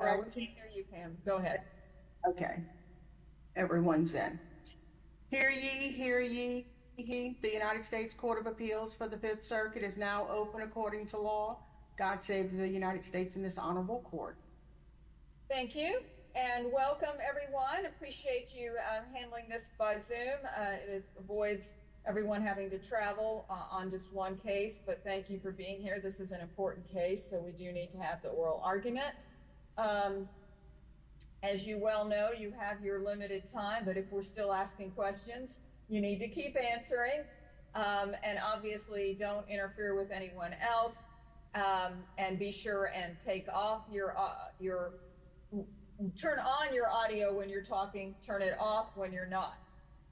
All right, we can't hear you, Pam. Go ahead. Okay. Everyone's in. Hear ye, hear ye. The United States Court of Appeals for the Fifth Circuit is now open according to law. God save the United States in this honorable court. Thank you. And welcome, everyone. Appreciate you handling this by zoom. It avoids everyone having to travel on just one case. But thank you for being here. This is an important case. So we do need to have the oral argument. As you well know, you have your limited time. But if we're still asking questions, you need to keep answering. And obviously don't interfere with anyone else. And be sure and take off your your turn on your audio when you're talking. Turn it off when you're not.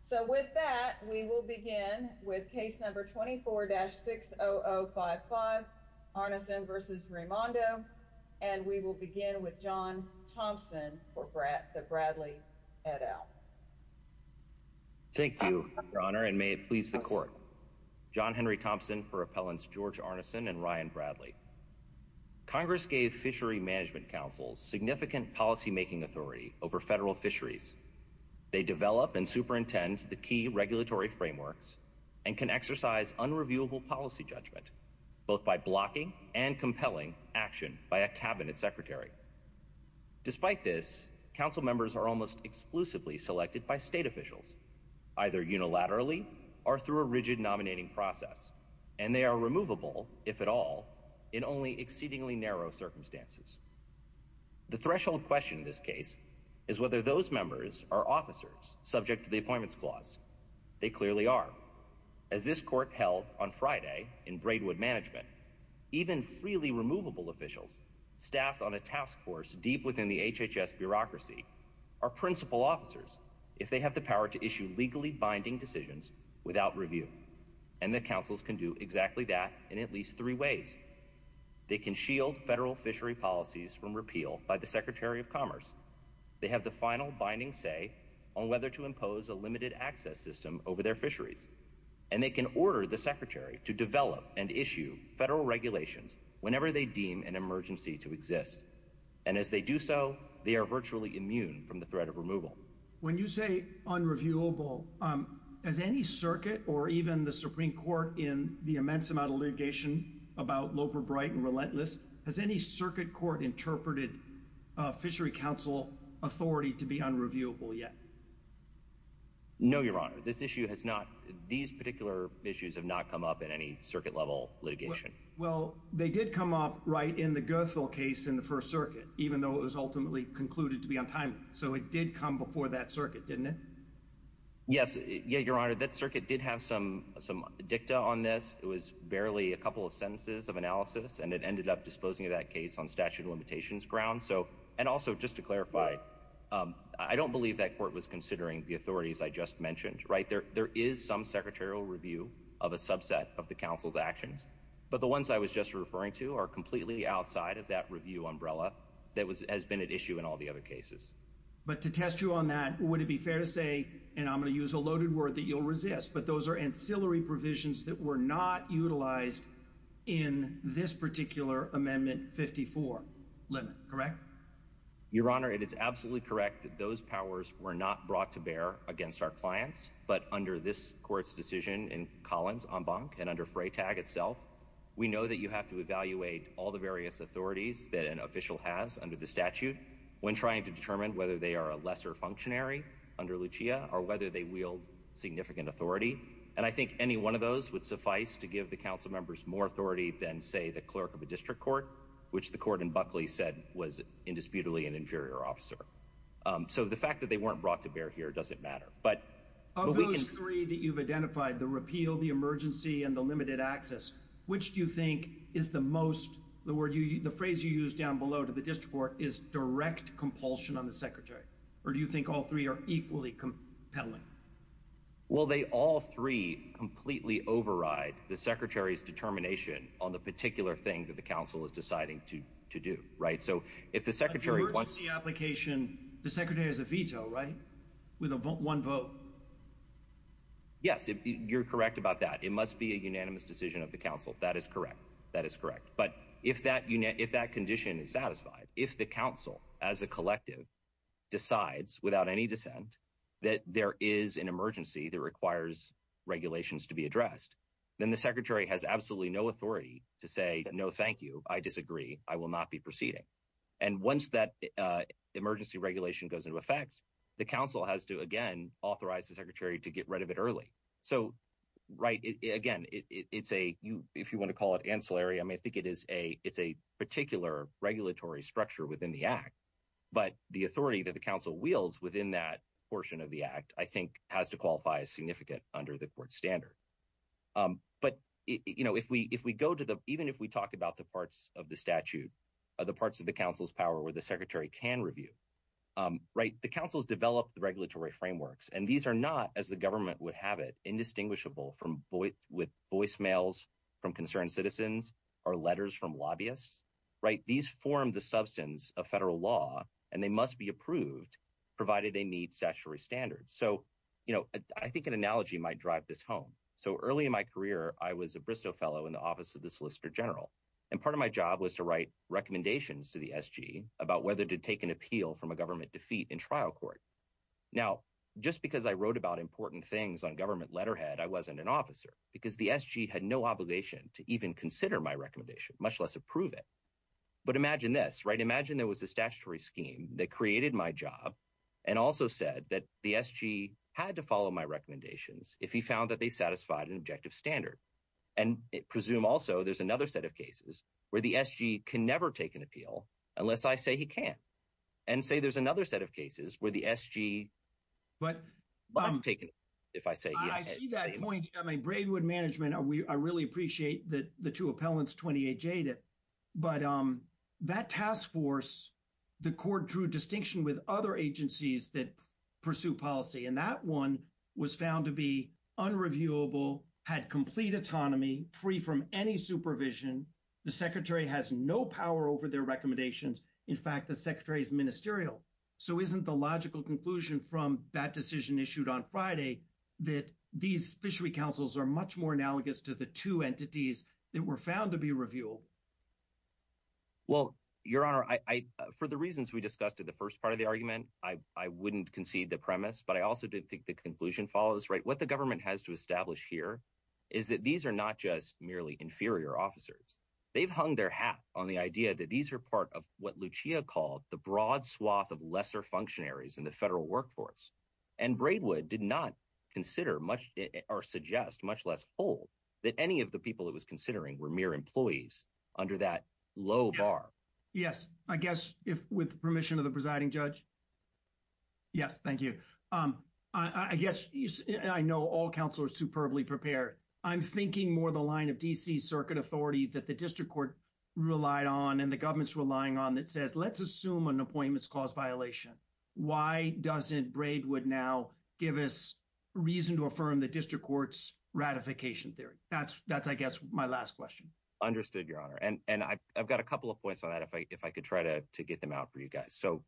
So with that, we will begin with case number 24-60055 Arnesen v. Raimondo. And we will begin with John Thompson for the Bradley et al. Thank you, Your Honor, and may it please the court. John Henry Thompson for appellants George Arnesen and Ryan Bradley. Congress gave fishery management councils significant policymaking authority over federal fisheries. They develop and superintend the key regulatory frameworks and can exercise unreviewable policy judgment, both by blocking and compelling action by a cabinet secretary. Despite this, council members are almost exclusively selected by state officials, either unilaterally or through a rigid nominating process. And they are removable, if at all, in only exceedingly narrow circumstances. The threshold question in this case is whether those members are officers subject to the appointments clause. They clearly are. As this court held on Friday in Braidwood Management, even freely removable officials staffed on a task force deep within the HHS bureaucracy are principal officers if they have the power to issue legally binding decisions without review. And the councils can do exactly that in at least three ways. They can shield federal fishery policies from repeal by the Secretary of Commerce. They have the final binding say on whether to impose a limited access system over their fisheries. And they can order the secretary to develop and issue federal regulations whenever they deem an emergency to exist. And as they do so, they are virtually immune from the threat of removal. When you say unreviewable, has any circuit or even the Supreme Court in the immense amount of litigation about Loper Bright and Relentless, has any circuit court interpreted fishery council authority to be unreviewable yet? No, Your Honor, this issue has not. These particular issues have not come up in any circuit level litigation. Well, they did come up right in the Goethal case in the First Circuit, even though it was ultimately concluded to be untimely. So it did come before that circuit, didn't it? Yes. Yeah, Your Honor, that circuit did have some some dicta on this. It was barely a couple of sentences of analysis, and it ended up disposing of that case on statute of limitations grounds. So and also just to clarify, I don't believe that court was considering the authorities I just mentioned. Right there. There is some secretarial review of a subset of the council's actions. But the ones I was just referring to are completely outside of that review umbrella that was has been at issue in all the other cases. But to test you on that, would it be fair to say, and I'm going to use a loaded word that you'll resist, but those are ancillary provisions that were not utilized in this particular Amendment 54 limit, correct? Your Honor, it is absolutely correct that those powers were not brought to bear against our clients. But under this court's decision in Collins, Embank, and under Freytag itself, we know that you have to evaluate all the various authorities that an official has under the statute when trying to determine whether they are a lesser functionary under Lucia or whether they wield significant authority. And I think any one of those would suffice to give the council members more authority than, say, the clerk of a district court, which the court in Buckley said was indisputably an inferior officer. So the fact that they weren't brought to bear here doesn't matter. But of those three that you've identified, the repeal, the emergency and the limited access, which do you think is the most the word you the phrase you use down below to the district court is direct compulsion on the secretary? Or do you think all three are equally compelling? Well, they all three completely override the secretary's determination on the particular thing that the council is deciding to to do right. So if the secretary wants the application, the secretary has a veto, right? With a vote one vote. Yes, you're correct about that. It must be a unanimous decision of the council. That is correct. That is correct. But if that if that condition is satisfied, if the council as a collective decides without any dissent that there is an emergency that requires regulations to be addressed, then the secretary has absolutely no authority to say no. Thank you. I disagree. I will not be proceeding. And once that emergency regulation goes into effect, the council has to, again, authorize the secretary to get rid of it early. So, right. Again, it's a you if you want to call it ancillary, I mean, I think it is a it's a particular regulatory structure within the act. But the authority that the council wheels within that portion of the act, I think, has to qualify as significant under the court standard. But, you know, if we if we go to the even if we talked about the parts of the statute, the parts of the council's power where the secretary can review. Right. The council's developed the regulatory frameworks, and these are not, as the government would have it, indistinguishable from with voicemails from concerned citizens or letters from lobbyists. Right. These form the substance of federal law, and they must be approved provided they meet statutory standards. So, you know, I think an analogy might drive this home. So early in my career, I was a Bristow fellow in the office of the solicitor general. And part of my job was to write recommendations to the SG about whether to take an appeal from a government defeat in trial court. Now, just because I wrote about important things on government letterhead, I wasn't an officer because the SG had no obligation to even consider my recommendation, much less approve it. But imagine this. Right. Imagine there was a statutory scheme that created my job and also said that the SG had to follow my recommendations if he found that they satisfied an objective standard. And presume also there's another set of cases where the SG can never take an appeal unless I say he can't. And say there's another set of cases where the SG must take an appeal if I say yes. I see that point. I mean, Braidwood Management, I really appreciate the two appellants, 28J, but that task force, the court drew distinction with other agencies that pursue policy. And that one was found to be unreviewable, had complete autonomy, free from any supervision. The secretary has no power over their recommendations. In fact, the secretary is ministerial. So isn't the logical conclusion from that decision issued on Friday that these fishery councils are much more analogous to the two entities that were found to be reviewed? Well, Your Honor, for the reasons we discussed in the first part of the argument, I wouldn't concede the premise. But I also didn't think the conclusion follows right. What the government has to establish here is that these are not just merely inferior officers. They've hung their hat on the idea that these are part of what Lucia called the broad swath of lesser functionaries in the federal workforce. And Braidwood did not consider much or suggest much less whole that any of the people it was considering were mere employees under that low bar. Yes, I guess if with permission of the presiding judge. Yes, thank you. I guess I know all counselors superbly prepared. I'm thinking more the line of D.C. Circuit authority that the district court relied on and the government's relying on that says, let's assume an appointments cause violation. Why doesn't Braidwood now give us reason to affirm the district court's ratification theory? That's that's, I guess, my last question. Understood, Your Honor. And I've got a couple of points on that, if I could try to get them out for you guys. So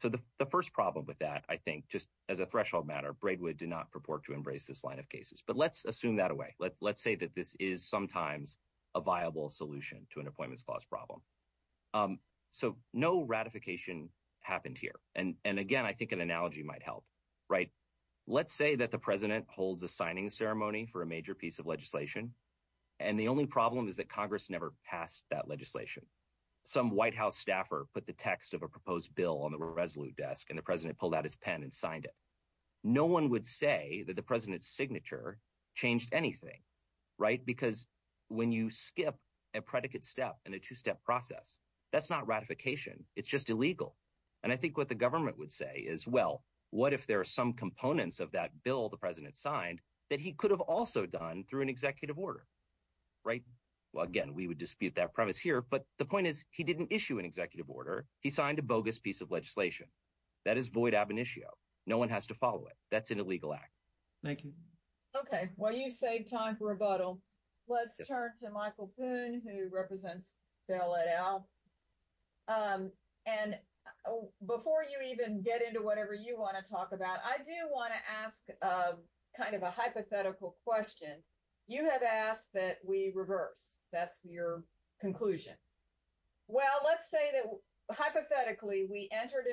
the first problem with that, I think, just as a threshold matter, Braidwood did not purport to embrace this line of cases. But let's assume that away. Let's say that this is sometimes a viable solution to an appointments clause problem. So no ratification happened here. And again, I think an analogy might help. Right. Let's say that the president holds a signing ceremony for a major piece of legislation. And the only problem is that Congress never passed that legislation. Some White House staffer put the text of a proposed bill on the Resolute Desk and the president pulled out his pen and signed it. No one would say that the president's signature changed anything. Right. Because when you skip a predicate step in a two-step process, that's not ratification. It's just illegal. And I think what the government would say is, well, what if there are some components of that bill the president signed that he could have also done through an executive order? Right. Well, again, we would dispute that premise here. But the point is, he didn't issue an executive order. He signed a bogus piece of legislation. That is void ab initio. No one has to follow it. That's an illegal act. Thank you. Okay. Well, you saved time for rebuttal. Let's turn to Michael Poon, who represents Bell et al. And before you even get into whatever you want to talk about, I do want to ask kind of a hypothetical question. You have asked that we reverse. That's your conclusion. Well, let's say that, hypothetically, we entered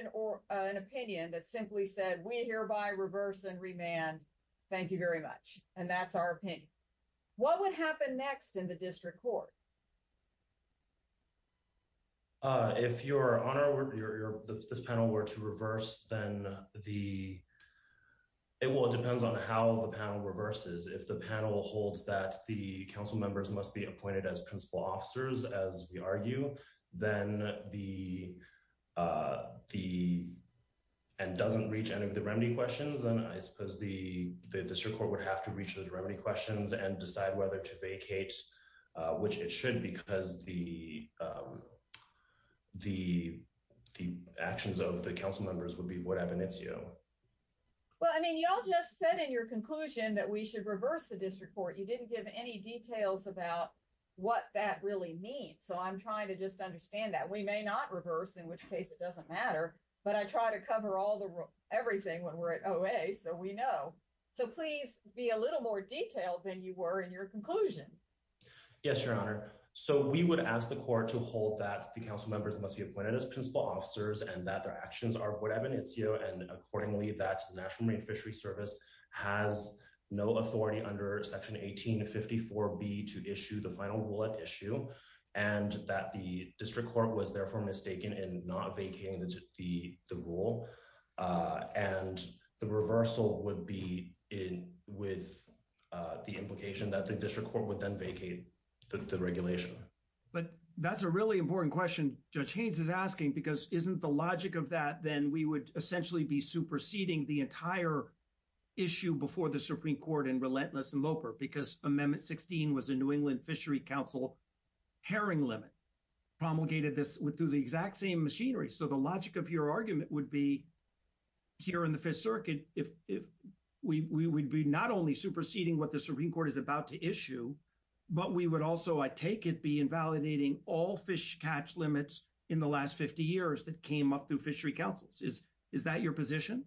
an opinion that simply said, we hereby reverse and remand. Thank you very much. And that's our opinion. What would happen next in the district court? If this panel were to reverse, then it depends on how the panel reverses. If the panel holds that the council members must be appointed as principal officers, as we argue, and doesn't reach any of the remedy questions, then I suppose the district court would have to reach those remedy questions and decide whether to vacate, which it should do. Because the actions of the council members would be what happens next. Well, I mean, y'all just said in your conclusion that we should reverse the district court. You didn't give any details about what that really means. So I'm trying to just understand that. We may not reverse, in which case it doesn't matter. But I try to cover everything when we're at OA, so we know. So please be a little more detailed than you were in your conclusion. Yes, Your Honor. We would ask the court to hold that the council members must be appointed as principal officers and that their actions are void ab initio, and accordingly, that the National Marine Fishery Service has no authority under Section 1854B to issue the final rule at issue, and that the district court was therefore mistaken in not vacating the rule. And the reversal would be in with the implication that the district court would then vacate the regulation. But that's a really important question Judge Haynes is asking, because isn't the logic of that, then we would essentially be superseding the entire issue before the Supreme Court and relentless and loper because Amendment 16 was a New England Fishery Council herring limit promulgated this with through the exact same machinery. So the logic of your argument would be here in the Fifth Circuit. If we would be not only superseding what the Supreme Court is about to issue, but we would also, I take it, be invalidating all fish catch limits in the last 50 years that came up through fishery councils. Is that your position?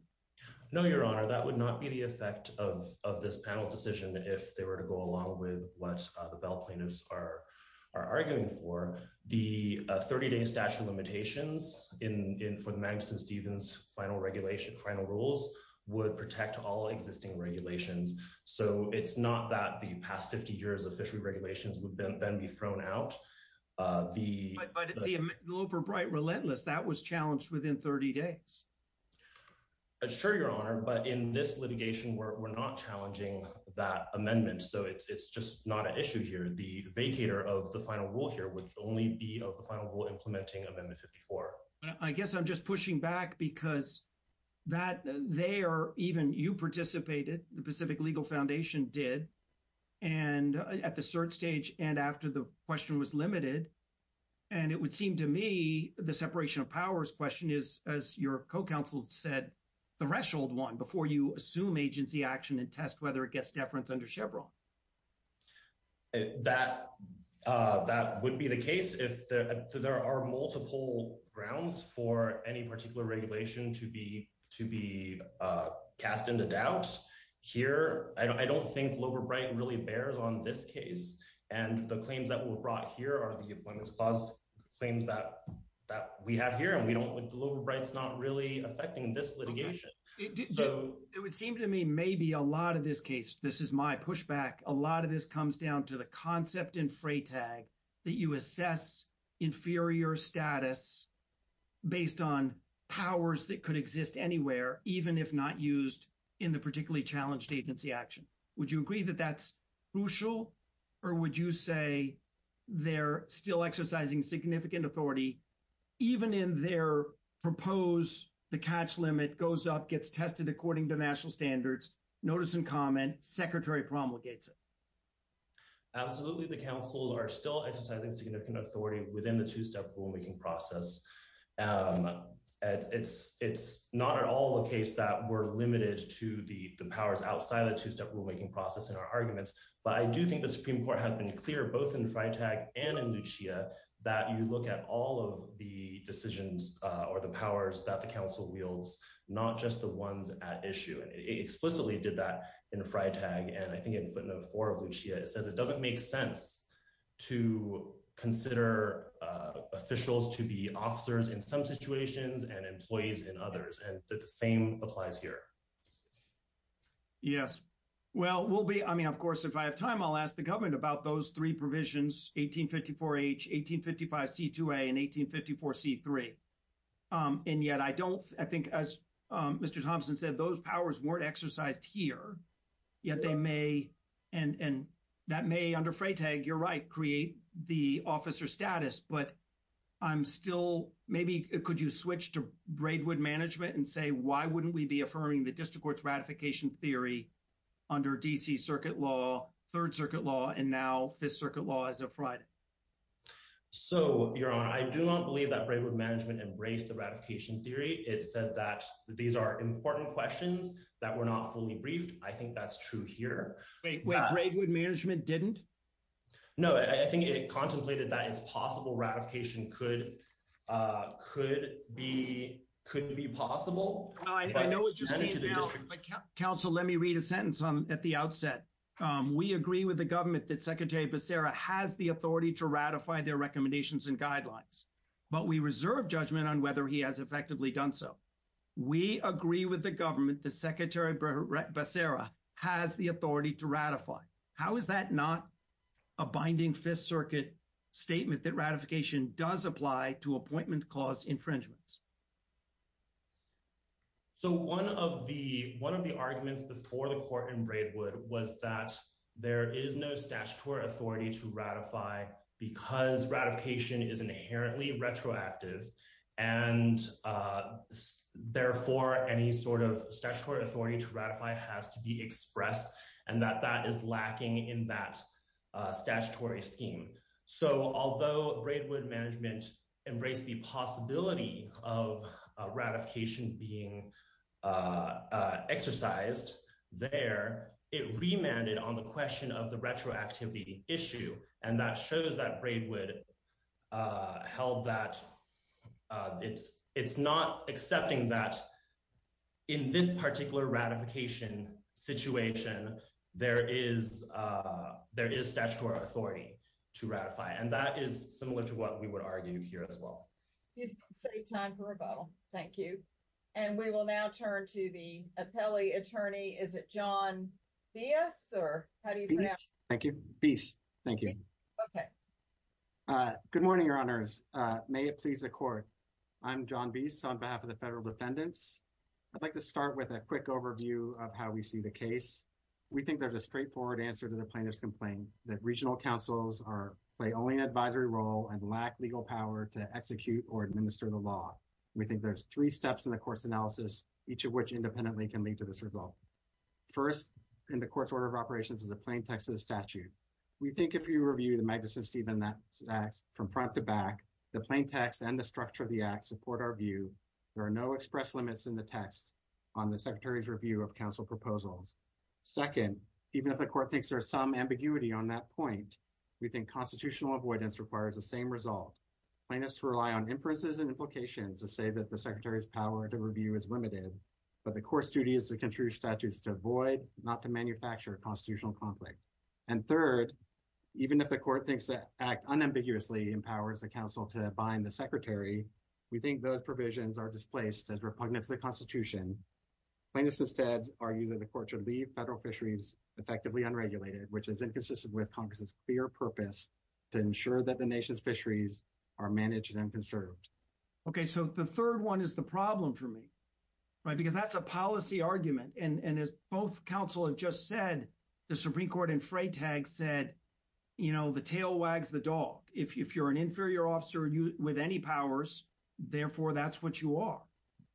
No, Your Honor. That would not be the effect of this panel's decision if they were to go along with what the bail plaintiffs are arguing for. The 30-day statute of limitations for the Magnuson-Stevens final regulation, final rules, would protect all existing regulations. So it's not that the past 50 years of fishery regulations would then be thrown out. But the Loper-Bright relentless, that was challenged within 30 days. That's true, Your Honor. But in this litigation, we're not challenging that amendment. So it's just not an issue here. The vacator of the final rule here would only be of the final rule implementing Amendment 54. I guess I'm just pushing back because that there, even you participated, the Pacific Legal Foundation did, and at the cert stage and after the question was limited. And it would seem to me the separation of powers question is, as your co-counsel said, the threshold one before you assume agency action and test whether it gets deference under Chevron. That would be the case if there are multiple grounds for any particular regulation to be cast into doubt. Here, I don't think Loper-Bright really bears on this case. And the claims that were brought here are the Appointments Clause claims that we have here. The Loper-Bright's not really affecting this litigation. It would seem to me maybe a lot of this case, this is my pushback. A lot of this comes down to the concept in Freytag that you assess inferior status based on powers that could exist anywhere, even if not used in the particularly challenged agency action. Would you agree that that's crucial or would you say they're still exercising significant authority even in their proposed, the catch limit goes up, gets tested according to national standards, notice and comment, secretary promulgates it? Absolutely. The councils are still exercising significant authority within the two-step rulemaking process. It's not at all the case that we're limited to the powers outside of the two-step rulemaking process in our arguments. But I do think the Supreme Court has been clear, both in Freytag and in Lucia, that you look at all of the decisions or the powers that the council wields, not just the ones at issue. And it explicitly did that in Freytag and I think in footnote four of Lucia, it says it doesn't make sense to consider officials to be officers in some situations and employees in others. And the same applies here. Yes. Well, we'll be, I mean, of course, if I have time, I'll ask the government about those provisions, 1854H, 1855C2A and 1854C3. And yet I don't, I think as Mr. Thompson said, those powers weren't exercised here, yet they may, and that may under Freytag, you're right, create the officer status. But I'm still, maybe could you switch to Braidwood management and say, why wouldn't we be affirming the district court's ratification theory under DC circuit law, third circuit law, and now fifth circuit law as of Friday? So your honor, I do not believe that Braidwood management embraced the ratification theory. It said that these are important questions that were not fully briefed. I think that's true here. Wait, wait, Braidwood management didn't? No, I think it contemplated that it's possible ratification could be, could be possible. I know it just came out, but counsel, let me read a sentence at the outset. We agree with the government that Secretary Becerra has the authority to ratify their recommendations and guidelines, but we reserve judgment on whether he has effectively done so. We agree with the government that Secretary Becerra has the authority to ratify. How is that not a binding fifth circuit statement that ratification does apply to appointment clause infringements? So one of the, one of the arguments before the court in Braidwood was that there is no statutory authority to ratify because ratification is inherently retroactive and therefore any sort of statutory authority to ratify has to be expressed and that that is lacking in that statutory scheme. So although Braidwood management embraced the possibility of ratification, of ratification being exercised there, it remanded on the question of the retroactivity issue. And that shows that Braidwood held that it's, it's not accepting that in this particular ratification situation, there is, there is statutory authority to ratify. And that is similar to what we would argue here as well. You've saved time for rebuttal. Thank you. And we will now turn to the appellee attorney. Is it John Biese or how do you pronounce? Thank you. Biese. Thank you. Okay. Good morning, your honors. May it please the court. I'm John Biese on behalf of the federal defendants. I'd like to start with a quick overview of how we see the case. We think there's a straightforward answer to the plaintiff's complaint that regional councils are, play only an advisory role and lack legal power to execute or administer the law. We think there's three steps in the court's analysis, each of which independently can lead to this result. First, in the court's order of operations is a plain text of the statute. We think if you review the Magnuson-Stevens Act from front to back, the plain text and the structure of the act support our view. There are no express limits in the text on the secretary's review of council proposals. Second, even if the court thinks there's some ambiguity on that point, we think constitutional avoidance requires the same result. Plaintiffs rely on inferences and implications to say that the secretary's power to review is limited, but the court's duty is to contribute statutes to avoid, not to manufacture a constitutional conflict. And third, even if the court thinks that act unambiguously empowers the council to bind the secretary, we think those provisions are displaced as repugnant to the constitution. Plaintiffs instead argue that the court should leave federal fisheries effectively unregulated, which is inconsistent with Congress's clear purpose to ensure that the nation's fisheries are managed and conserved. Okay, so the third one is the problem for me, right? Because that's a policy argument. And as both counsel have just said, the Supreme Court in Freytag said, you know, the tail wags the dog. If you're an inferior officer with any powers, therefore that's what you are.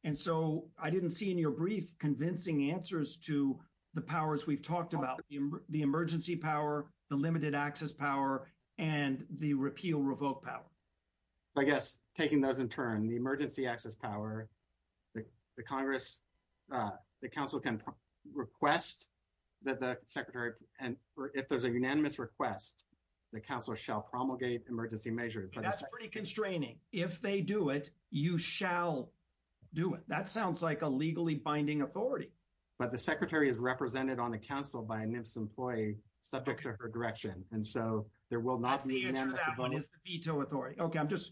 And so I didn't see in your brief convincing answers to the powers we've talked about, the emergency power, the limited access power, and the repeal revoke power. I guess taking those in turn, the emergency access power, the Congress, the council can request that the secretary, and if there's a unanimous request, the council shall promulgate emergency measures. That's pretty constraining. If they do it, you shall do it. That sounds like a legally binding authority. But the secretary is represented on the council by an employee subject to her direction. And so there will not be a veto authority. Okay. I'm just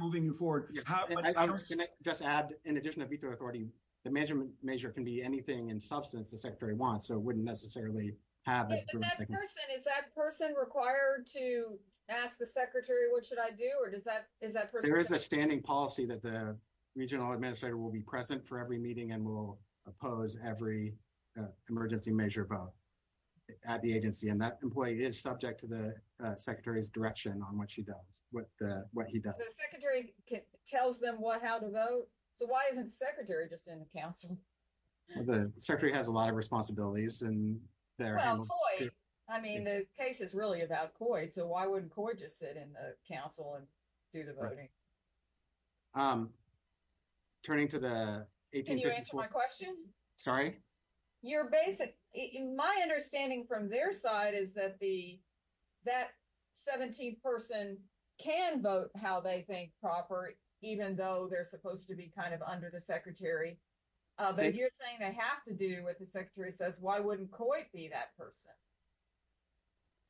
moving you forward. Just add, in addition to veto authority, the management measure can be anything in substance the secretary wants. So it wouldn't necessarily have. Is that person required to ask the secretary, what should I do? There is a standing policy that the regional administrator will be present for every meeting and will oppose every emergency measure vote at the agency. And that employee is subject to the secretary's direction on what she does, what he does. The secretary tells them how to vote. So why isn't the secretary just in the council? The secretary has a lot of responsibilities. I mean, the case is really about COID. So why wouldn't COID just sit in the council and do the voting? Turning to the 1854— Can you answer my question? Sorry? My understanding from their side is that that 17th person can vote how they think proper, even though they're supposed to be kind of under the secretary. But if you're saying they have to do what the secretary says, why wouldn't COID be that person?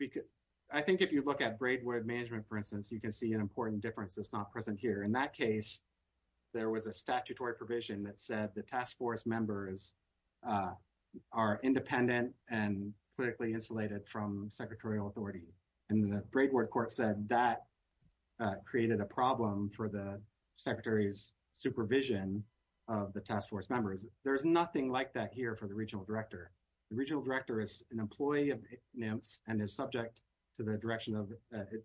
Well, I think if you look at Braidwood management, for instance, you can see an important difference that's not present here. In that case, there was a statutory provision that said the task force members are independent and politically insulated from secretarial authority. And the Braidwood court said that created a problem for the secretary's supervision of the task force members. There's nothing like that here for the regional director. The regional director is an employee of NIMS and is subject to the direction of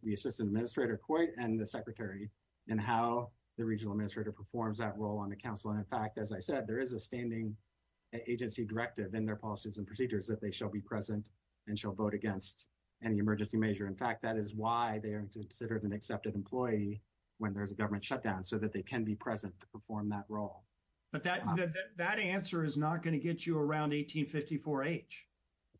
the assistant administrator, COID, and the secretary, and how the regional administrator performs that role on the council. And in fact, as I said, there is a standing agency directive in their policies and procedures that they shall be present and shall vote against any emergency measure. In fact, that is why they are considered an accepted employee when there's a government shutdown, so that they can be present to perform that role. But that answer is not going to get you around 1854-H.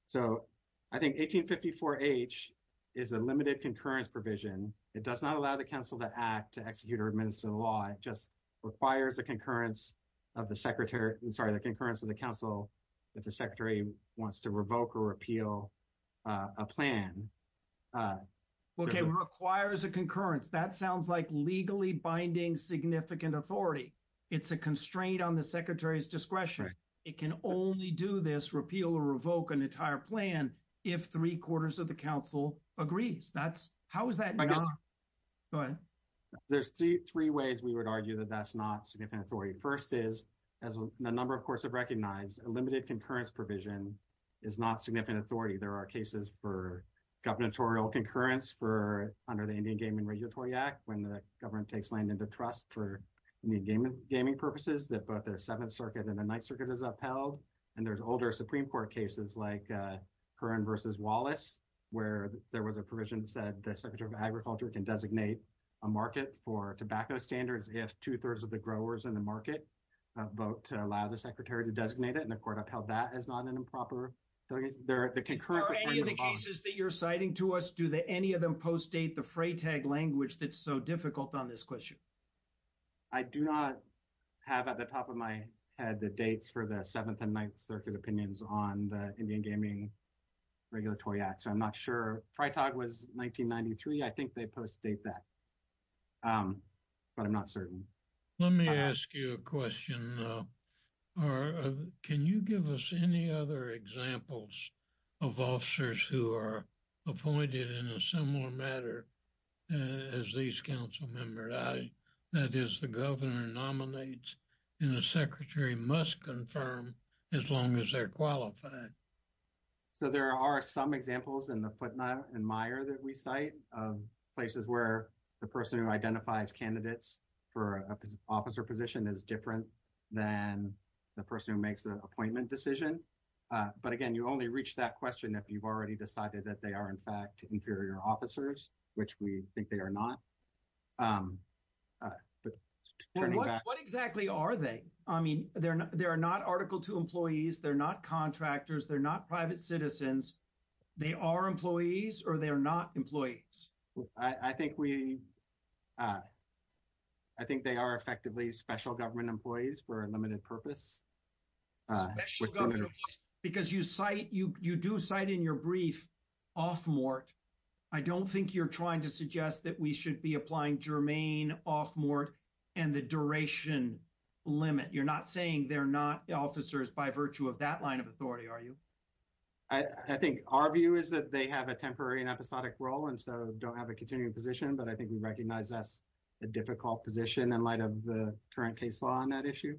So I think 1854-H is a limited concurrence provision. It does not allow the council to act, to execute, or administer the law. It just requires a concurrence of the secretary, I'm sorry, the concurrence of the council if the secretary wants to revoke or repeal a plan. Well, it requires a concurrence. That sounds like legally binding significant authority. It's a constraint on the secretary's discretion. It can only do this, repeal or revoke an entire plan, if three-quarters of the council agrees. That's – how is that not – go ahead. There's three ways we would argue that that's not significant authority. First is, as a number, of course, have recognized, a limited concurrence provision is not significant authority. There are cases for gubernatorial concurrence for – under the Indian Game and Regulatory Act, when the government takes land into trust for gaming purposes, that both the Seventh Circuit and the Ninth Circuit is upheld. And there's older Supreme Court cases, like Curran v. Wallace, where there was a provision that said the Secretary of Agriculture can designate a market for tobacco standards if two-thirds of the growers in the market vote to allow the secretary to designate it. And the court upheld that as not an improper – the concurrence of the agreement – Are any of the cases that you're citing to us, do any of them post-date the FRAE tag that's so difficult on this question? I do not have at the top of my head the dates for the Seventh and Ninth Circuit opinions on the Indian Gaming Regulatory Act, so I'm not sure. FRAE tag was 1993. I think they post-date that, but I'm not certain. Let me ask you a question, though. Can you give us any other examples of officers who are appointed in a similar matter as these council members? That is, the governor nominates, and the secretary must confirm as long as they're qualified. So, there are some examples in the footnote in Meijer that we cite of places where the person who identifies candidates for an officer position is different than the person who makes the appointment decision. But again, you only reach that question if you've already decided that they are, in fact, inferior officers, which we think they are not. What exactly are they? I mean, they are not Article II employees. They're not contractors. They're not private citizens. They are employees, or they are not employees. I think they are effectively special government employees for a limited purpose. Special government employees, because you cite, you do cite in your brief, off-mort. I don't think you're trying to suggest that we should be applying germane off-mort and the duration limit. You're not saying they're not officers by virtue of that line of authority, are you? I think our view is that they have a temporary and episodic role and so don't have a continuing position. But I think we recognize that's a difficult position in light of the current case law on that issue.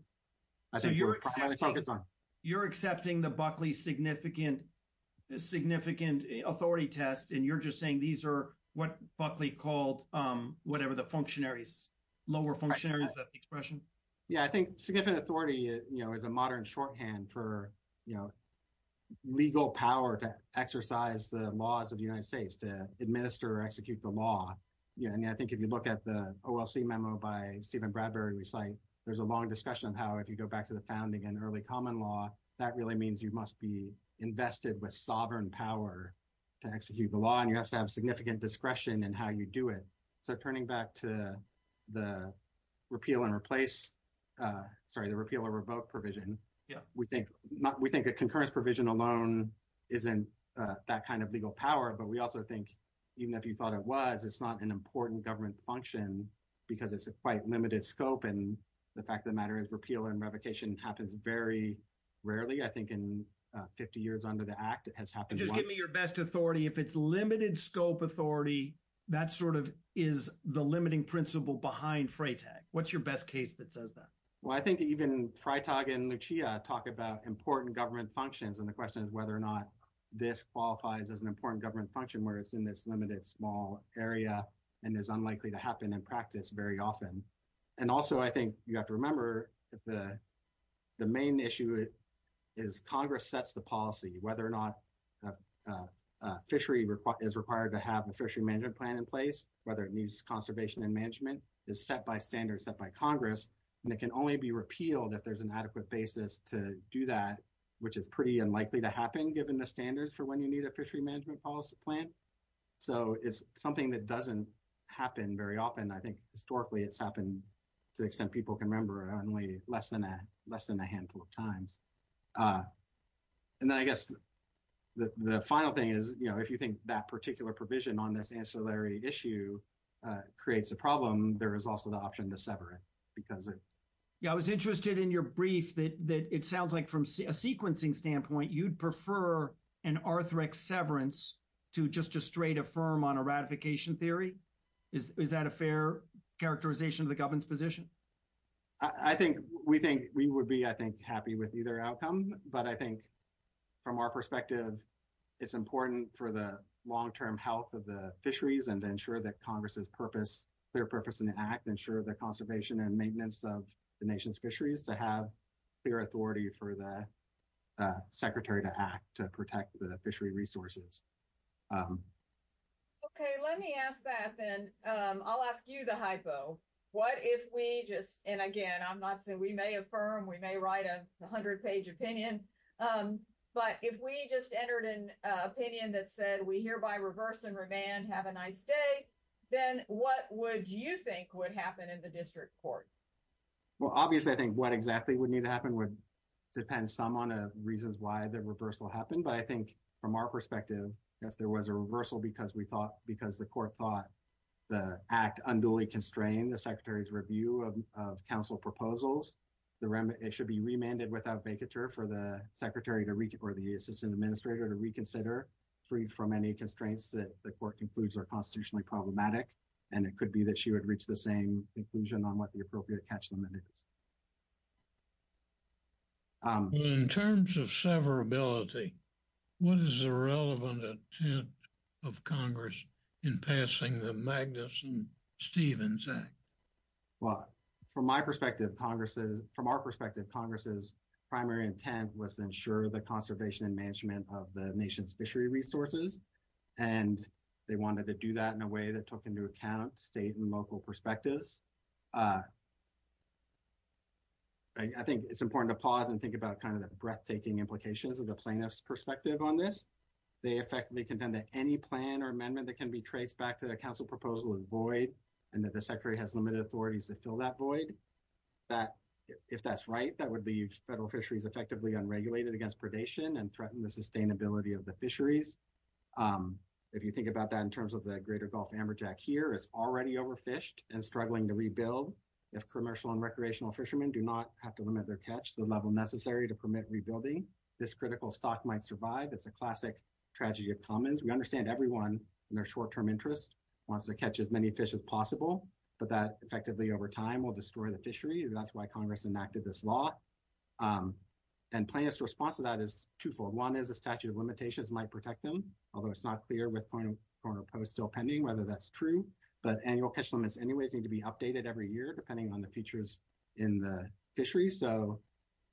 So you're accepting the Buckley significant authority test and you're just saying these are what Buckley called whatever the functionaries, lower functionaries, is that the expression? Yeah, I think significant authority is a modern shorthand for legal power to exercise the laws of the United States, to administer or execute the law. I think if you look at the OLC memo by Stephen Bradbury, we cite there's a long discussion on how if you go back to the founding and early common law, that really means you must be invested with sovereign power to execute the law and you have to have significant discretion in how you do it. So turning back to the repeal and replace, sorry, the repeal or revoke provision, we think a concurrence provision alone isn't that kind of legal power, but we also think even if you thought it was, it's not an important government function because it's a quite repeal and revocation happens very rarely. I think in 50 years under the act, it has happened once. Just give me your best authority. If it's limited scope authority, that sort of is the limiting principle behind FRATEG. What's your best case that says that? Well, I think even Fritag and Lucia talk about important government functions and the question is whether or not this qualifies as an important government function where it's in this limited small area and is unlikely to happen in practice very often. And also, I think you have to remember the main issue is Congress sets the policy, whether or not a fishery is required to have a fishery management plan in place, whether it needs conservation and management is set by standards set by Congress, and it can only be repealed if there's an adequate basis to do that, which is pretty unlikely to happen given the standards for when you need a fishery management policy plan. So it's something that doesn't happen very often. I think historically, it's happened to the extent people can remember only less than a handful of times. And then I guess the final thing is, if you think that particular provision on this ancillary issue creates a problem, there is also the option to sever it. Yeah, I was interested in your brief that it sounds like from a sequencing standpoint, you'd prefer an arthritic severance to just to straight affirm on a ratification theory. Is that a fair characterization of the government's position? I think we would be, I think, happy with either outcome. But I think from our perspective, it's important for the long-term health of the fisheries and to ensure that Congress's purpose, their purpose in the act, ensure the conservation and maintenance of the nation's fisheries to have clear authority for the Secretary to act to protect the fishery resources. Okay, let me ask that then. I'll ask you the hypo. What if we just, and again, I'm not saying, we may affirm, we may write a 100-page opinion. But if we just entered an opinion that said, we hereby reverse and revand, have a nice day, then what would you think would happen in the district court? Well, obviously, I think what exactly would need to happen would depend some on the reasons why the reversal happened. But I think from our perspective, if there was a reversal because we thought, because the court thought the act unduly constrained the Secretary's review of council proposals, it should be remanded without vacatur for the Secretary or the Assistant Administrator to reconsider, free from any constraints that the court concludes are constitutionally problematic. And it could be that she would reach the same conclusion on what the appropriate catch limit is. Well, in terms of severability, what is the relevant intent of Congress in passing the Magnuson-Stevens Act? Well, from our perspective, Congress's primary intent was to ensure the conservation and management of the nation's fishery resources. And they wanted to do that in a way that took into account state and local perspectives. I think it's important to pause and think about kind of the breathtaking implications of the plaintiff's perspective on this. They effectively contend that any plan or amendment that can be traced back to the council proposal is void, and that the Secretary has limited authorities to fill that void. If that's right, that would leave federal fisheries effectively unregulated against predation and threaten the sustainability of the fisheries. If you think about that in terms of the greater Gulf amberjack here, it's already overfished and struggling to rebuild. If commercial and recreational fishermen do not have to limit their catch to the level necessary to permit rebuilding, this critical stock might survive. It's a classic tragedy of commons. We understand everyone in their short-term interest wants to catch as many fish as possible, but that effectively over time will destroy the fishery. That's why Congress enacted this law. And plaintiff's response to that is twofold. One is a statute of limitations might protect them, although it's not clear with corner post still pending whether that's true. But annual catch limits anyways need to be updated every year depending on the features in the fisheries, so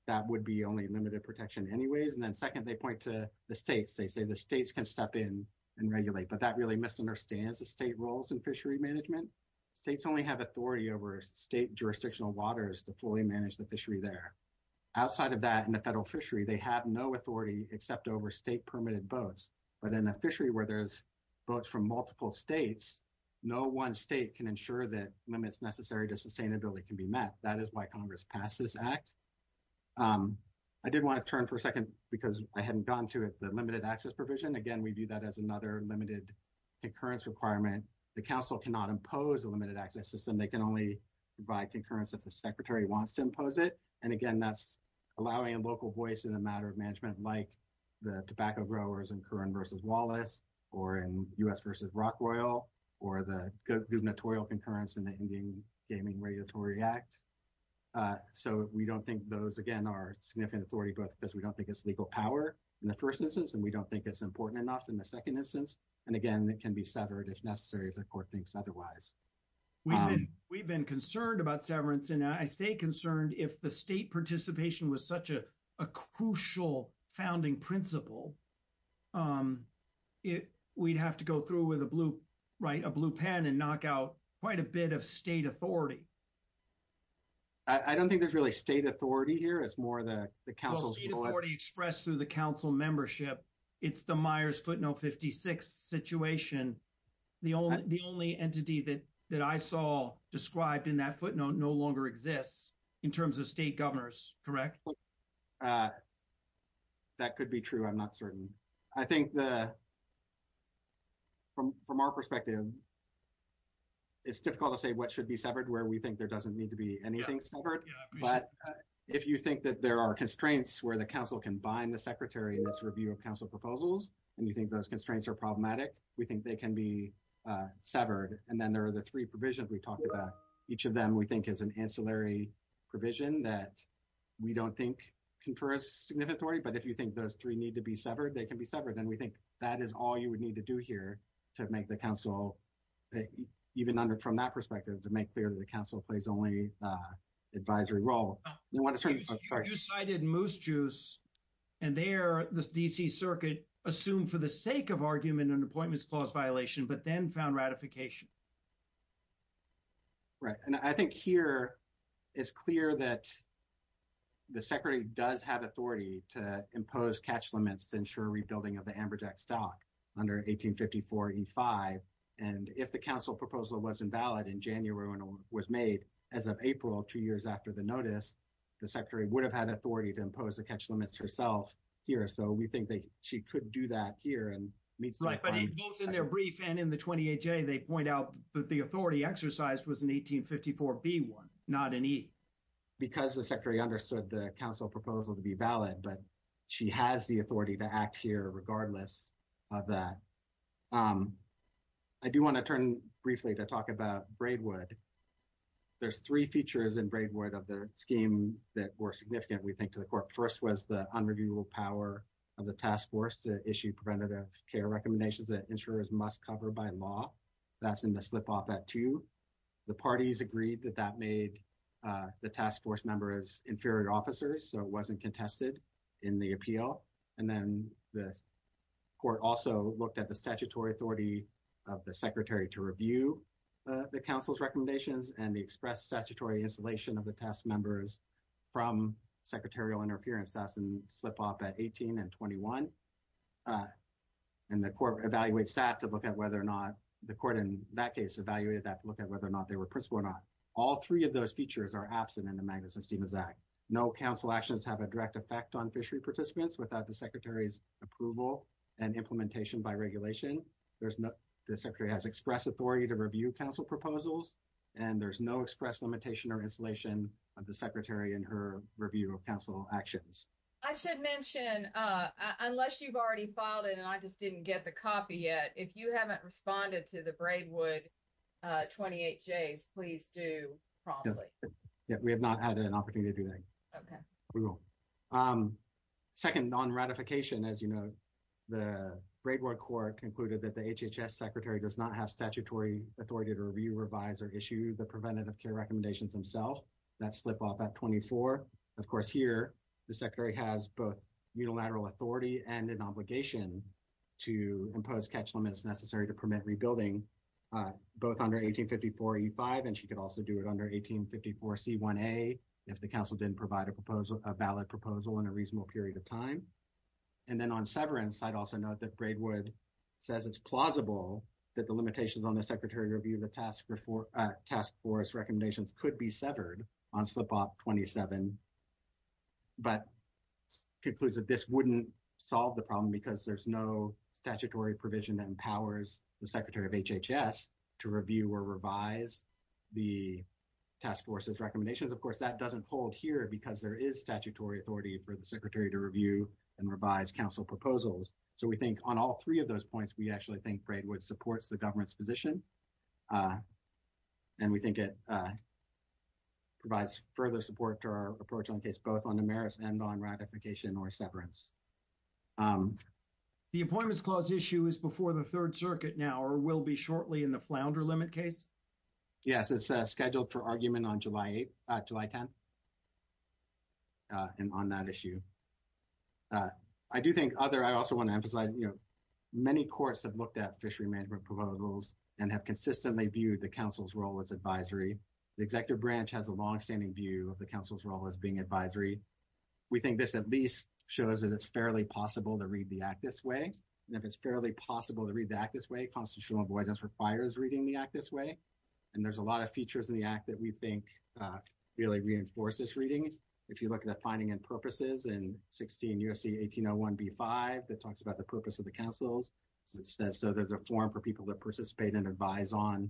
that would be only limited protection anyways. And then second, they point to the states. They say the states can step in and regulate, but that really misunderstands the state roles in fishery management. States only have authority over state jurisdictional waters to fully manage the fishery there. Outside of that, in the federal fishery, they have no authority except over state-permitted boats. But in a fishery where there's boats from multiple states, no one state can ensure that limits necessary to sustainability can be met. That is why Congress passed this act. I did want to turn for a second because I hadn't gotten to it, the limited access provision. Again, we view that as another limited concurrence requirement. The council cannot impose a limited access system. They can only provide concurrence if the secretary wants to impose it. So, we don't think those, again, are significant authority because we don't think it's legal power in the first instance, and we don't think it's important enough in the second instance. And again, it can be severed if necessary if the court thinks otherwise. We've been concerned about severance, and I stay concerned if the state participation was such a crucial founding principle, we'd have to go through with a blue pen and knock out quite a bit of state authority. I don't think there's really state authority here. It's more the council's voice. Well, state authority expressed through the council membership. It's the Myers-Footnote 56 situation. The only entity that I saw described in that footnote no longer exists in terms of state governors, correct? That could be true. I'm not certain. I think from our perspective, it's difficult to say what should be severed where we think there doesn't need to be anything severed. But if you think that there are constraints where the council can bind the secretary in its review of council proposals, and you think those constraints are problematic, we think they can be severed. And then there are the three provisions we talked about. Each of them, we think, is an ancillary provision that we don't think confer a significant authority. But if you think those three need to be severed, they can be severed. And we think that is all you would need to do here to make the council, even from that perspective, to make clear that the council plays only an advisory role. Oh, excuse me. You cited Moose Juice, and there the D.C. Circuit assumed for the sake of argument an appointments clause violation, but then found ratification. And I think here it's clear that the secretary does have authority to impose catch limits to ensure rebuilding of the Amberjack stock under 1854E5. And if the council proposal was invalid in January and was made as of April, two years after the notice, the secretary would have had authority to impose the catch limits herself here. So we think that she could do that here. But both in their brief and in the 28J, they point out that the authority exercised was in 1854B1, not in E. Because the secretary understood the council proposal to be valid, but she has the authority to act here regardless of that. I do want to turn briefly to talk about Braidwood. There's three features in Braidwood of the scheme that were significant, we think, to the court. First was the unreviewable power of the task force to issue preventative care recommendations that insurers must cover by law. That's in the slip-off at two. The parties agreed that that made the task force members inferior officers, so it wasn't contested in the appeal. And then the court also looked at the statutory authority of the secretary to review the council's recommendations and the express statutory installation of the task members from secretarial interference. That's in slip-off at 18 and 21. And the court evaluates that to look at whether or not the court in that case evaluated that and looked at whether or not they were principled or not. All three of those features are absent in the Magnuson-Stevens Act. No council actions have a direct effect on fishery participants without the secretary's approval and implementation by regulation. The secretary has express authority to review council proposals, and there's no express limitation or installation of the secretary in her review of council actions. I should mention, unless you've already filed it and I just didn't get the copy yet, if you haven't responded to the Braidwood 28Js, please do promptly. Yeah, we have not had an opportunity to do that. Okay. We won't. Second, on ratification, as you know, the Braidwood court concluded that the HHS secretary does not have statutory authority to review, revise, or issue the preventative care recommendations themselves. That's slip-off at 24. Of course, here, the secretary has both unilateral authority and an obligation to impose catch limits necessary to permit rebuilding, both under 1854E5, and she could also do it under 1854C1A if the council didn't provide a valid proposal in a reasonable period of time. And then on severance, I'd also note that Braidwood says it's plausible that the limitations on the secretary review the task force recommendations could be severed on slip-off 27, but concludes that this wouldn't solve the problem because there's no statutory provision that empowers the secretary of HHS to review or revise the task force's recommendations. Of course, that doesn't hold here because there is statutory authority for the secretary to review and revise council proposals. So, we think on all three of those points, we actually think Braidwood supports the government's position, and we think it provides further support to our approach on case, both on the merits and on ratification or severance. The Appointments Clause issue is before the Third Circuit now or will be shortly in the Flounder Limit case? Yes, it's scheduled for argument on July 10, and on that issue. I do think other, I also want to emphasize, you know, many courts have looked at fishery management proposals and have consistently viewed the council's role as advisory. The executive branch has a longstanding view of the council's role as being advisory. We think this at least shows that it's fairly possible to read the Act this way, and if it's fairly possible to read the Act this way, constitutional avoidance requires reading the Act this way, and there's a lot of features in the Act that we think really reinforce this reading. If you look at the finding and purposes in 16 U.S.C. 1801b5 that talks about the purpose of the councils, it says so there's a forum for people to participate and advise on,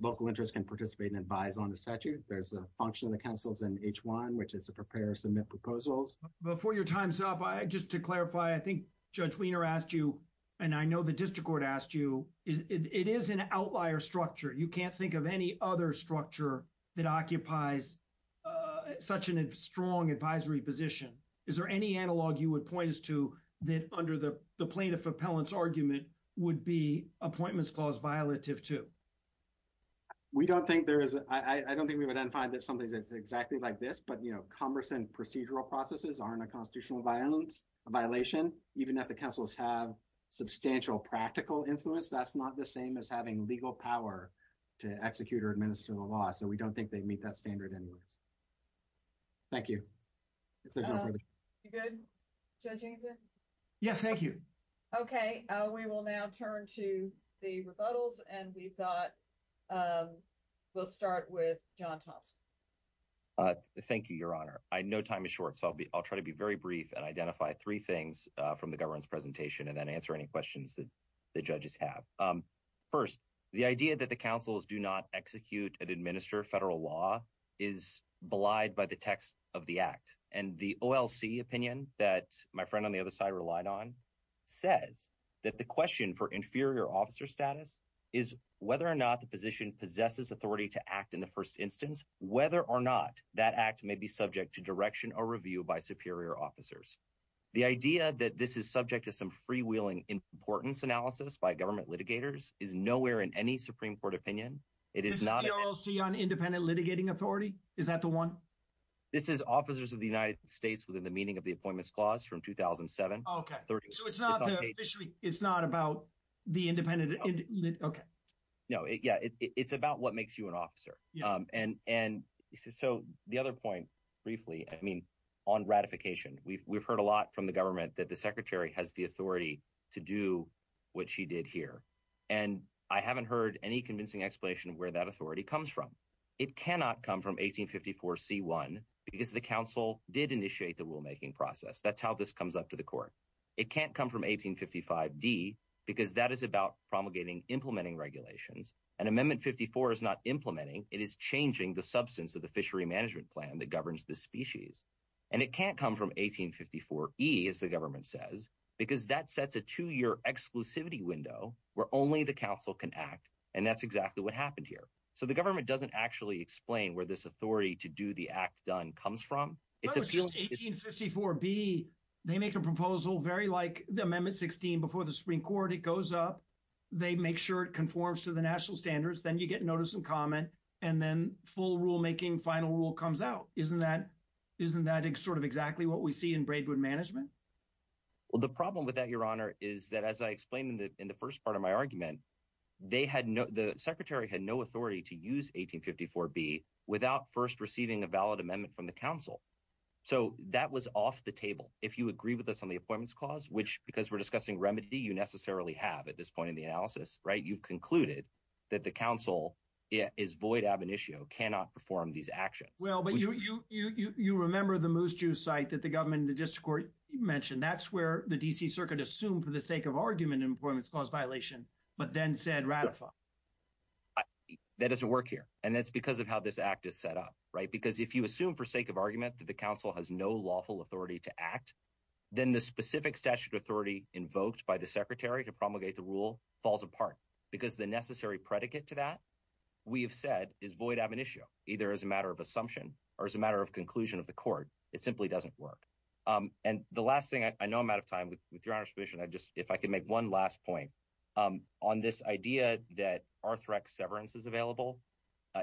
local interests can participate and advise on the statute. There's a function of the councils in H1, which is to prepare or submit proposals. Before your time's up, just to clarify, I think Judge Wiener asked you, and I know the district court asked you, it is an outlier structure. You can't think of any other structure that occupies such a strong advisory position. Is there any analog you would point us to that under the plaintiff appellant's argument would be appointments clause violative to? We don't think there is. I don't think we would find that something that's exactly like this, but, you know, cumbersome procedural processes aren't a constitutional violation, even if the councils have substantial practical influence. That's not the same as having legal power to execute or administer the law, so we don't think they meet that standard anyways. Thank you. If there's no further. You good, Judge Angelsen? Yes, thank you. Okay, we will now turn to the rebuttals, and we've got, we'll start with John Thompson. Thank you, Your Honor. No time is short, so I'll try to be very brief and identify three things from the government's presentation and then answer any questions that the judges have. First, the idea that the councils do not execute and administer federal law is belied by the text of the act, and the OLC opinion that my friend on the other side relied on, says that the question for inferior officer status is whether or not the position possesses authority to act in the first instance, whether or not that act may be subject to direction or review by superior officers. The idea that this is subject to some freewheeling importance analysis by government litigators is nowhere in any Supreme Court opinion. It is not an OLC on independent litigating authority. Is that the one? This is officers of the United States within the meaning of the appointments clause from 2007. So it's not officially, it's not about the independent, okay. No, yeah, it's about what makes you an officer. And so the other point briefly, I mean, on ratification, we've heard a lot from the government that the secretary has the authority to do what she did here, and I haven't heard any convincing explanation of where that authority comes from. It cannot come from 1854 C1 because the council did initiate the rulemaking process. That's how this comes up to the court. It can't come from 1855 D because that is about promulgating, implementing regulations and amendment 54 is not implementing. It is changing the substance of the fishery management plan that governs the species. And it can't come from 1854 E as the government says, because that sets a two year exclusivity window where only the council can act. And that's exactly what happened here. So the government doesn't actually explain where this authority to do the act done comes from. It's 1854 B. They make a proposal very like the amendment 16 before the Supreme Court. It goes up. They make sure it conforms to the national standards. Then you get notice and comment, and then full rulemaking final rule comes out. Isn't that sort of exactly what we see in Braidwood management? Well, the problem with that, your honor, is that as I explained in the first part of my So that was off the table. If you agree with us on the appointments clause, which because we're discussing remedy, you necessarily have at this point in the analysis, right? You've concluded that the council is void. Ab initio cannot perform these actions. Well, but you remember the moose juice site that the government in the district court mentioned? That's where the D.C. Circuit assumed for the sake of argument in appointments cause violation, but then said ratify. That doesn't work here. And that's because of how this act is set up, right? If you assume for sake of argument that the council has no lawful authority to act, then the specific statute authority invoked by the secretary to promulgate the rule falls apart because the necessary predicate to that we have said is void. Ab initio either as a matter of assumption or as a matter of conclusion of the court. It simply doesn't work. And the last thing I know I'm out of time with your honor's position. I just if I could make one last point on this idea that Arthrex severance is available.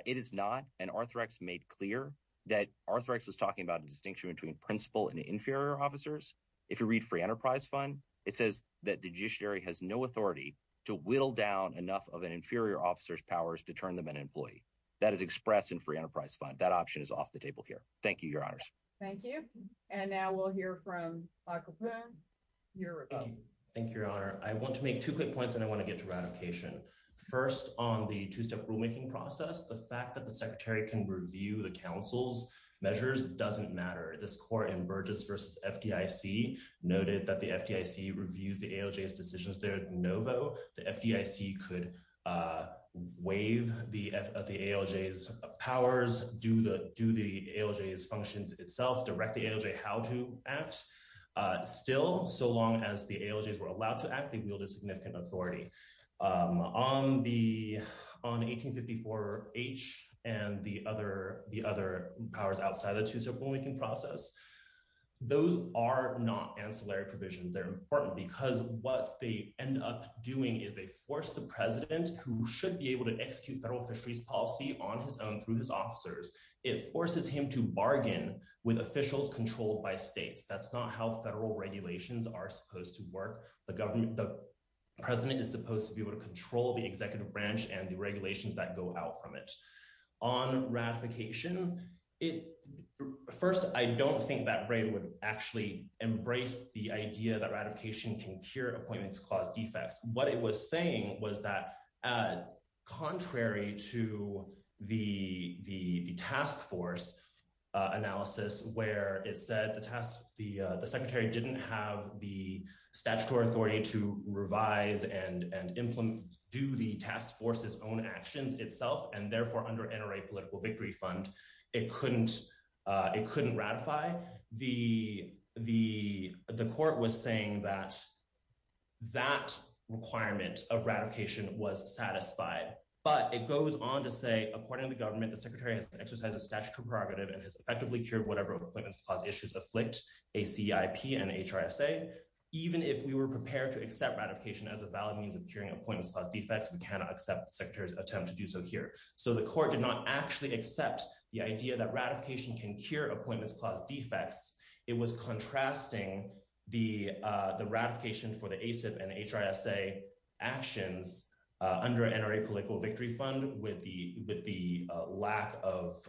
It is not. And Arthrex made clear that Arthrex was talking about the distinction between principal and inferior officers. If you read free enterprise fund, it says that the judiciary has no authority to whittle down enough of an inferior officer's powers to turn them an employee that is expressed in free enterprise fund. That option is off the table here. Thank you, your honors. Thank you. And now we'll hear from Michael. Thank you, your honor. I want to make two quick points and I want to get to ratification first on the two step rulemaking process. The fact that the secretary can review the council's measures doesn't matter. This court in Burgess versus FDIC noted that the FDIC reviews the ALJ's decisions. They're no vote. The FDIC could waive the ALJ's powers, do the ALJ's functions itself, direct the ALJ how to act. Still, so long as the ALJs were allowed to act, they wielded significant authority. On 1854H and the other powers outside the two step rulemaking process, those are not ancillary provisions. They're important because what they end up doing is they force the president who should be able to execute federal fisheries policy on his own through his officers. It forces him to bargain with officials controlled by states. That's not how federal regulations are supposed to work. The president is supposed to be able to control the executive branch and the regulations that go out from it. On ratification, first, I don't think that rate would actually embrace the idea that ratification can cure appointments clause defects. What it was saying was that contrary to the task force analysis where it said the secretary didn't have the statutory authority to revise and implement, do the task force's own actions itself, and therefore under NRA political victory fund, it couldn't ratify, the court was saying that that requirement of ratification was satisfied. But it goes on to say, according to the government, the secretary has to exercise a statutory and has effectively cured whatever appointments clause issues afflict ACIP and HRSA. Even if we were prepared to accept ratification as a valid means of curing appointments clause defects, we cannot accept the secretary's attempt to do so here. So the court did not actually accept the idea that ratification can cure appointments clause defects. It was contrasting the ratification for the ACIP and HRSA actions under NRA political victory fund with the lack of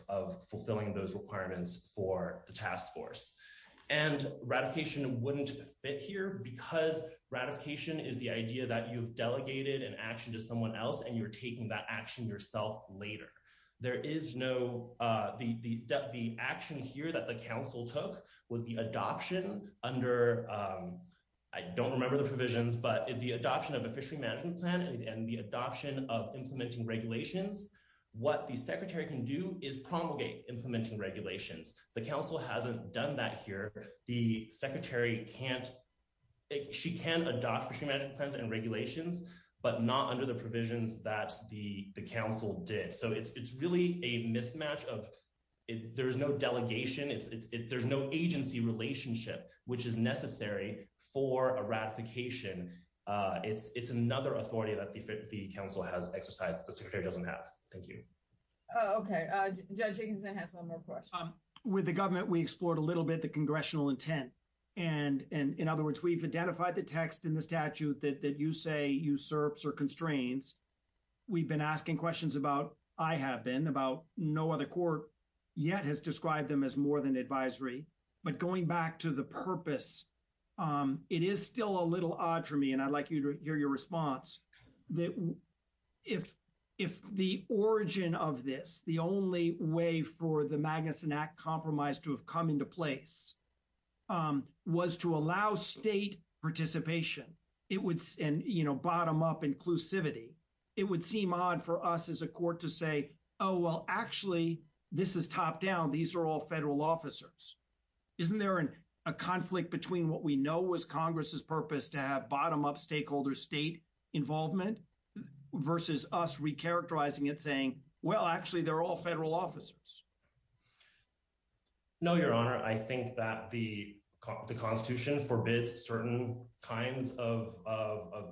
fulfilling those requirements for the task force. And ratification wouldn't fit here because ratification is the idea that you've delegated an action to someone else and you're taking that action yourself later. There is no—the action here that the council took was the adoption under—I don't remember the provisions, but the adoption of a fishery management plan and the adoption of implementing regulations, what the secretary can do is promulgate implementing regulations. The council hasn't done that here. The secretary can't—she can adopt fishery management plans and regulations, but not under the provisions that the council did. So it's really a mismatch of—there's no delegation, there's no agency relationship, which is necessary for a ratification. It's another authority that the council has exercised. The secretary doesn't have. Thank you. Okay, Judge Jenkinson has one more question. With the government, we explored a little bit the congressional intent. And in other words, we've identified the text in the statute that you say usurps or constrains. We've been asking questions about—I have been—about no other court yet has described them as more than advisory. But going back to the purpose, it is still a little odd for me, and I'd like to hear your response, that if the origin of this, the only way for the Magnuson Act compromise to have come into place, was to allow state participation and, you know, bottom-up inclusivity, it would seem odd for us as a court to say, oh, well, actually, this is top-down. These are all federal officers. Isn't there a conflict between what we know was Congress's purpose to have bottom-up stakeholder state involvement versus us recharacterizing it, saying, well, actually, they're all federal officers? No, Your Honor. I think that the Constitution forbids certain kinds of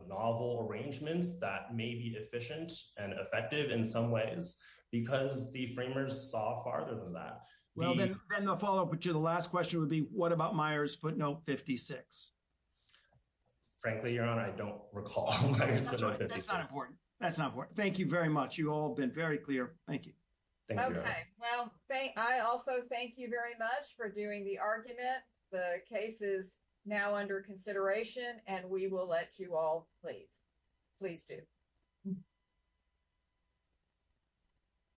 novel arrangements that may be efficient and effective in some ways, because the framers saw farther than that. Well, then the follow-up to the last question would be, what about Myers-Footnote 56? Frankly, Your Honor, I don't recall Myers-Footnote 56. That's not important. That's not important. Thank you very much. You've all been very clear. Thank you. Thank you, Your Honor. Okay. Well, I also thank you very much for doing the argument. The case is now under consideration, and we will let you all leave. Please do. Thank you.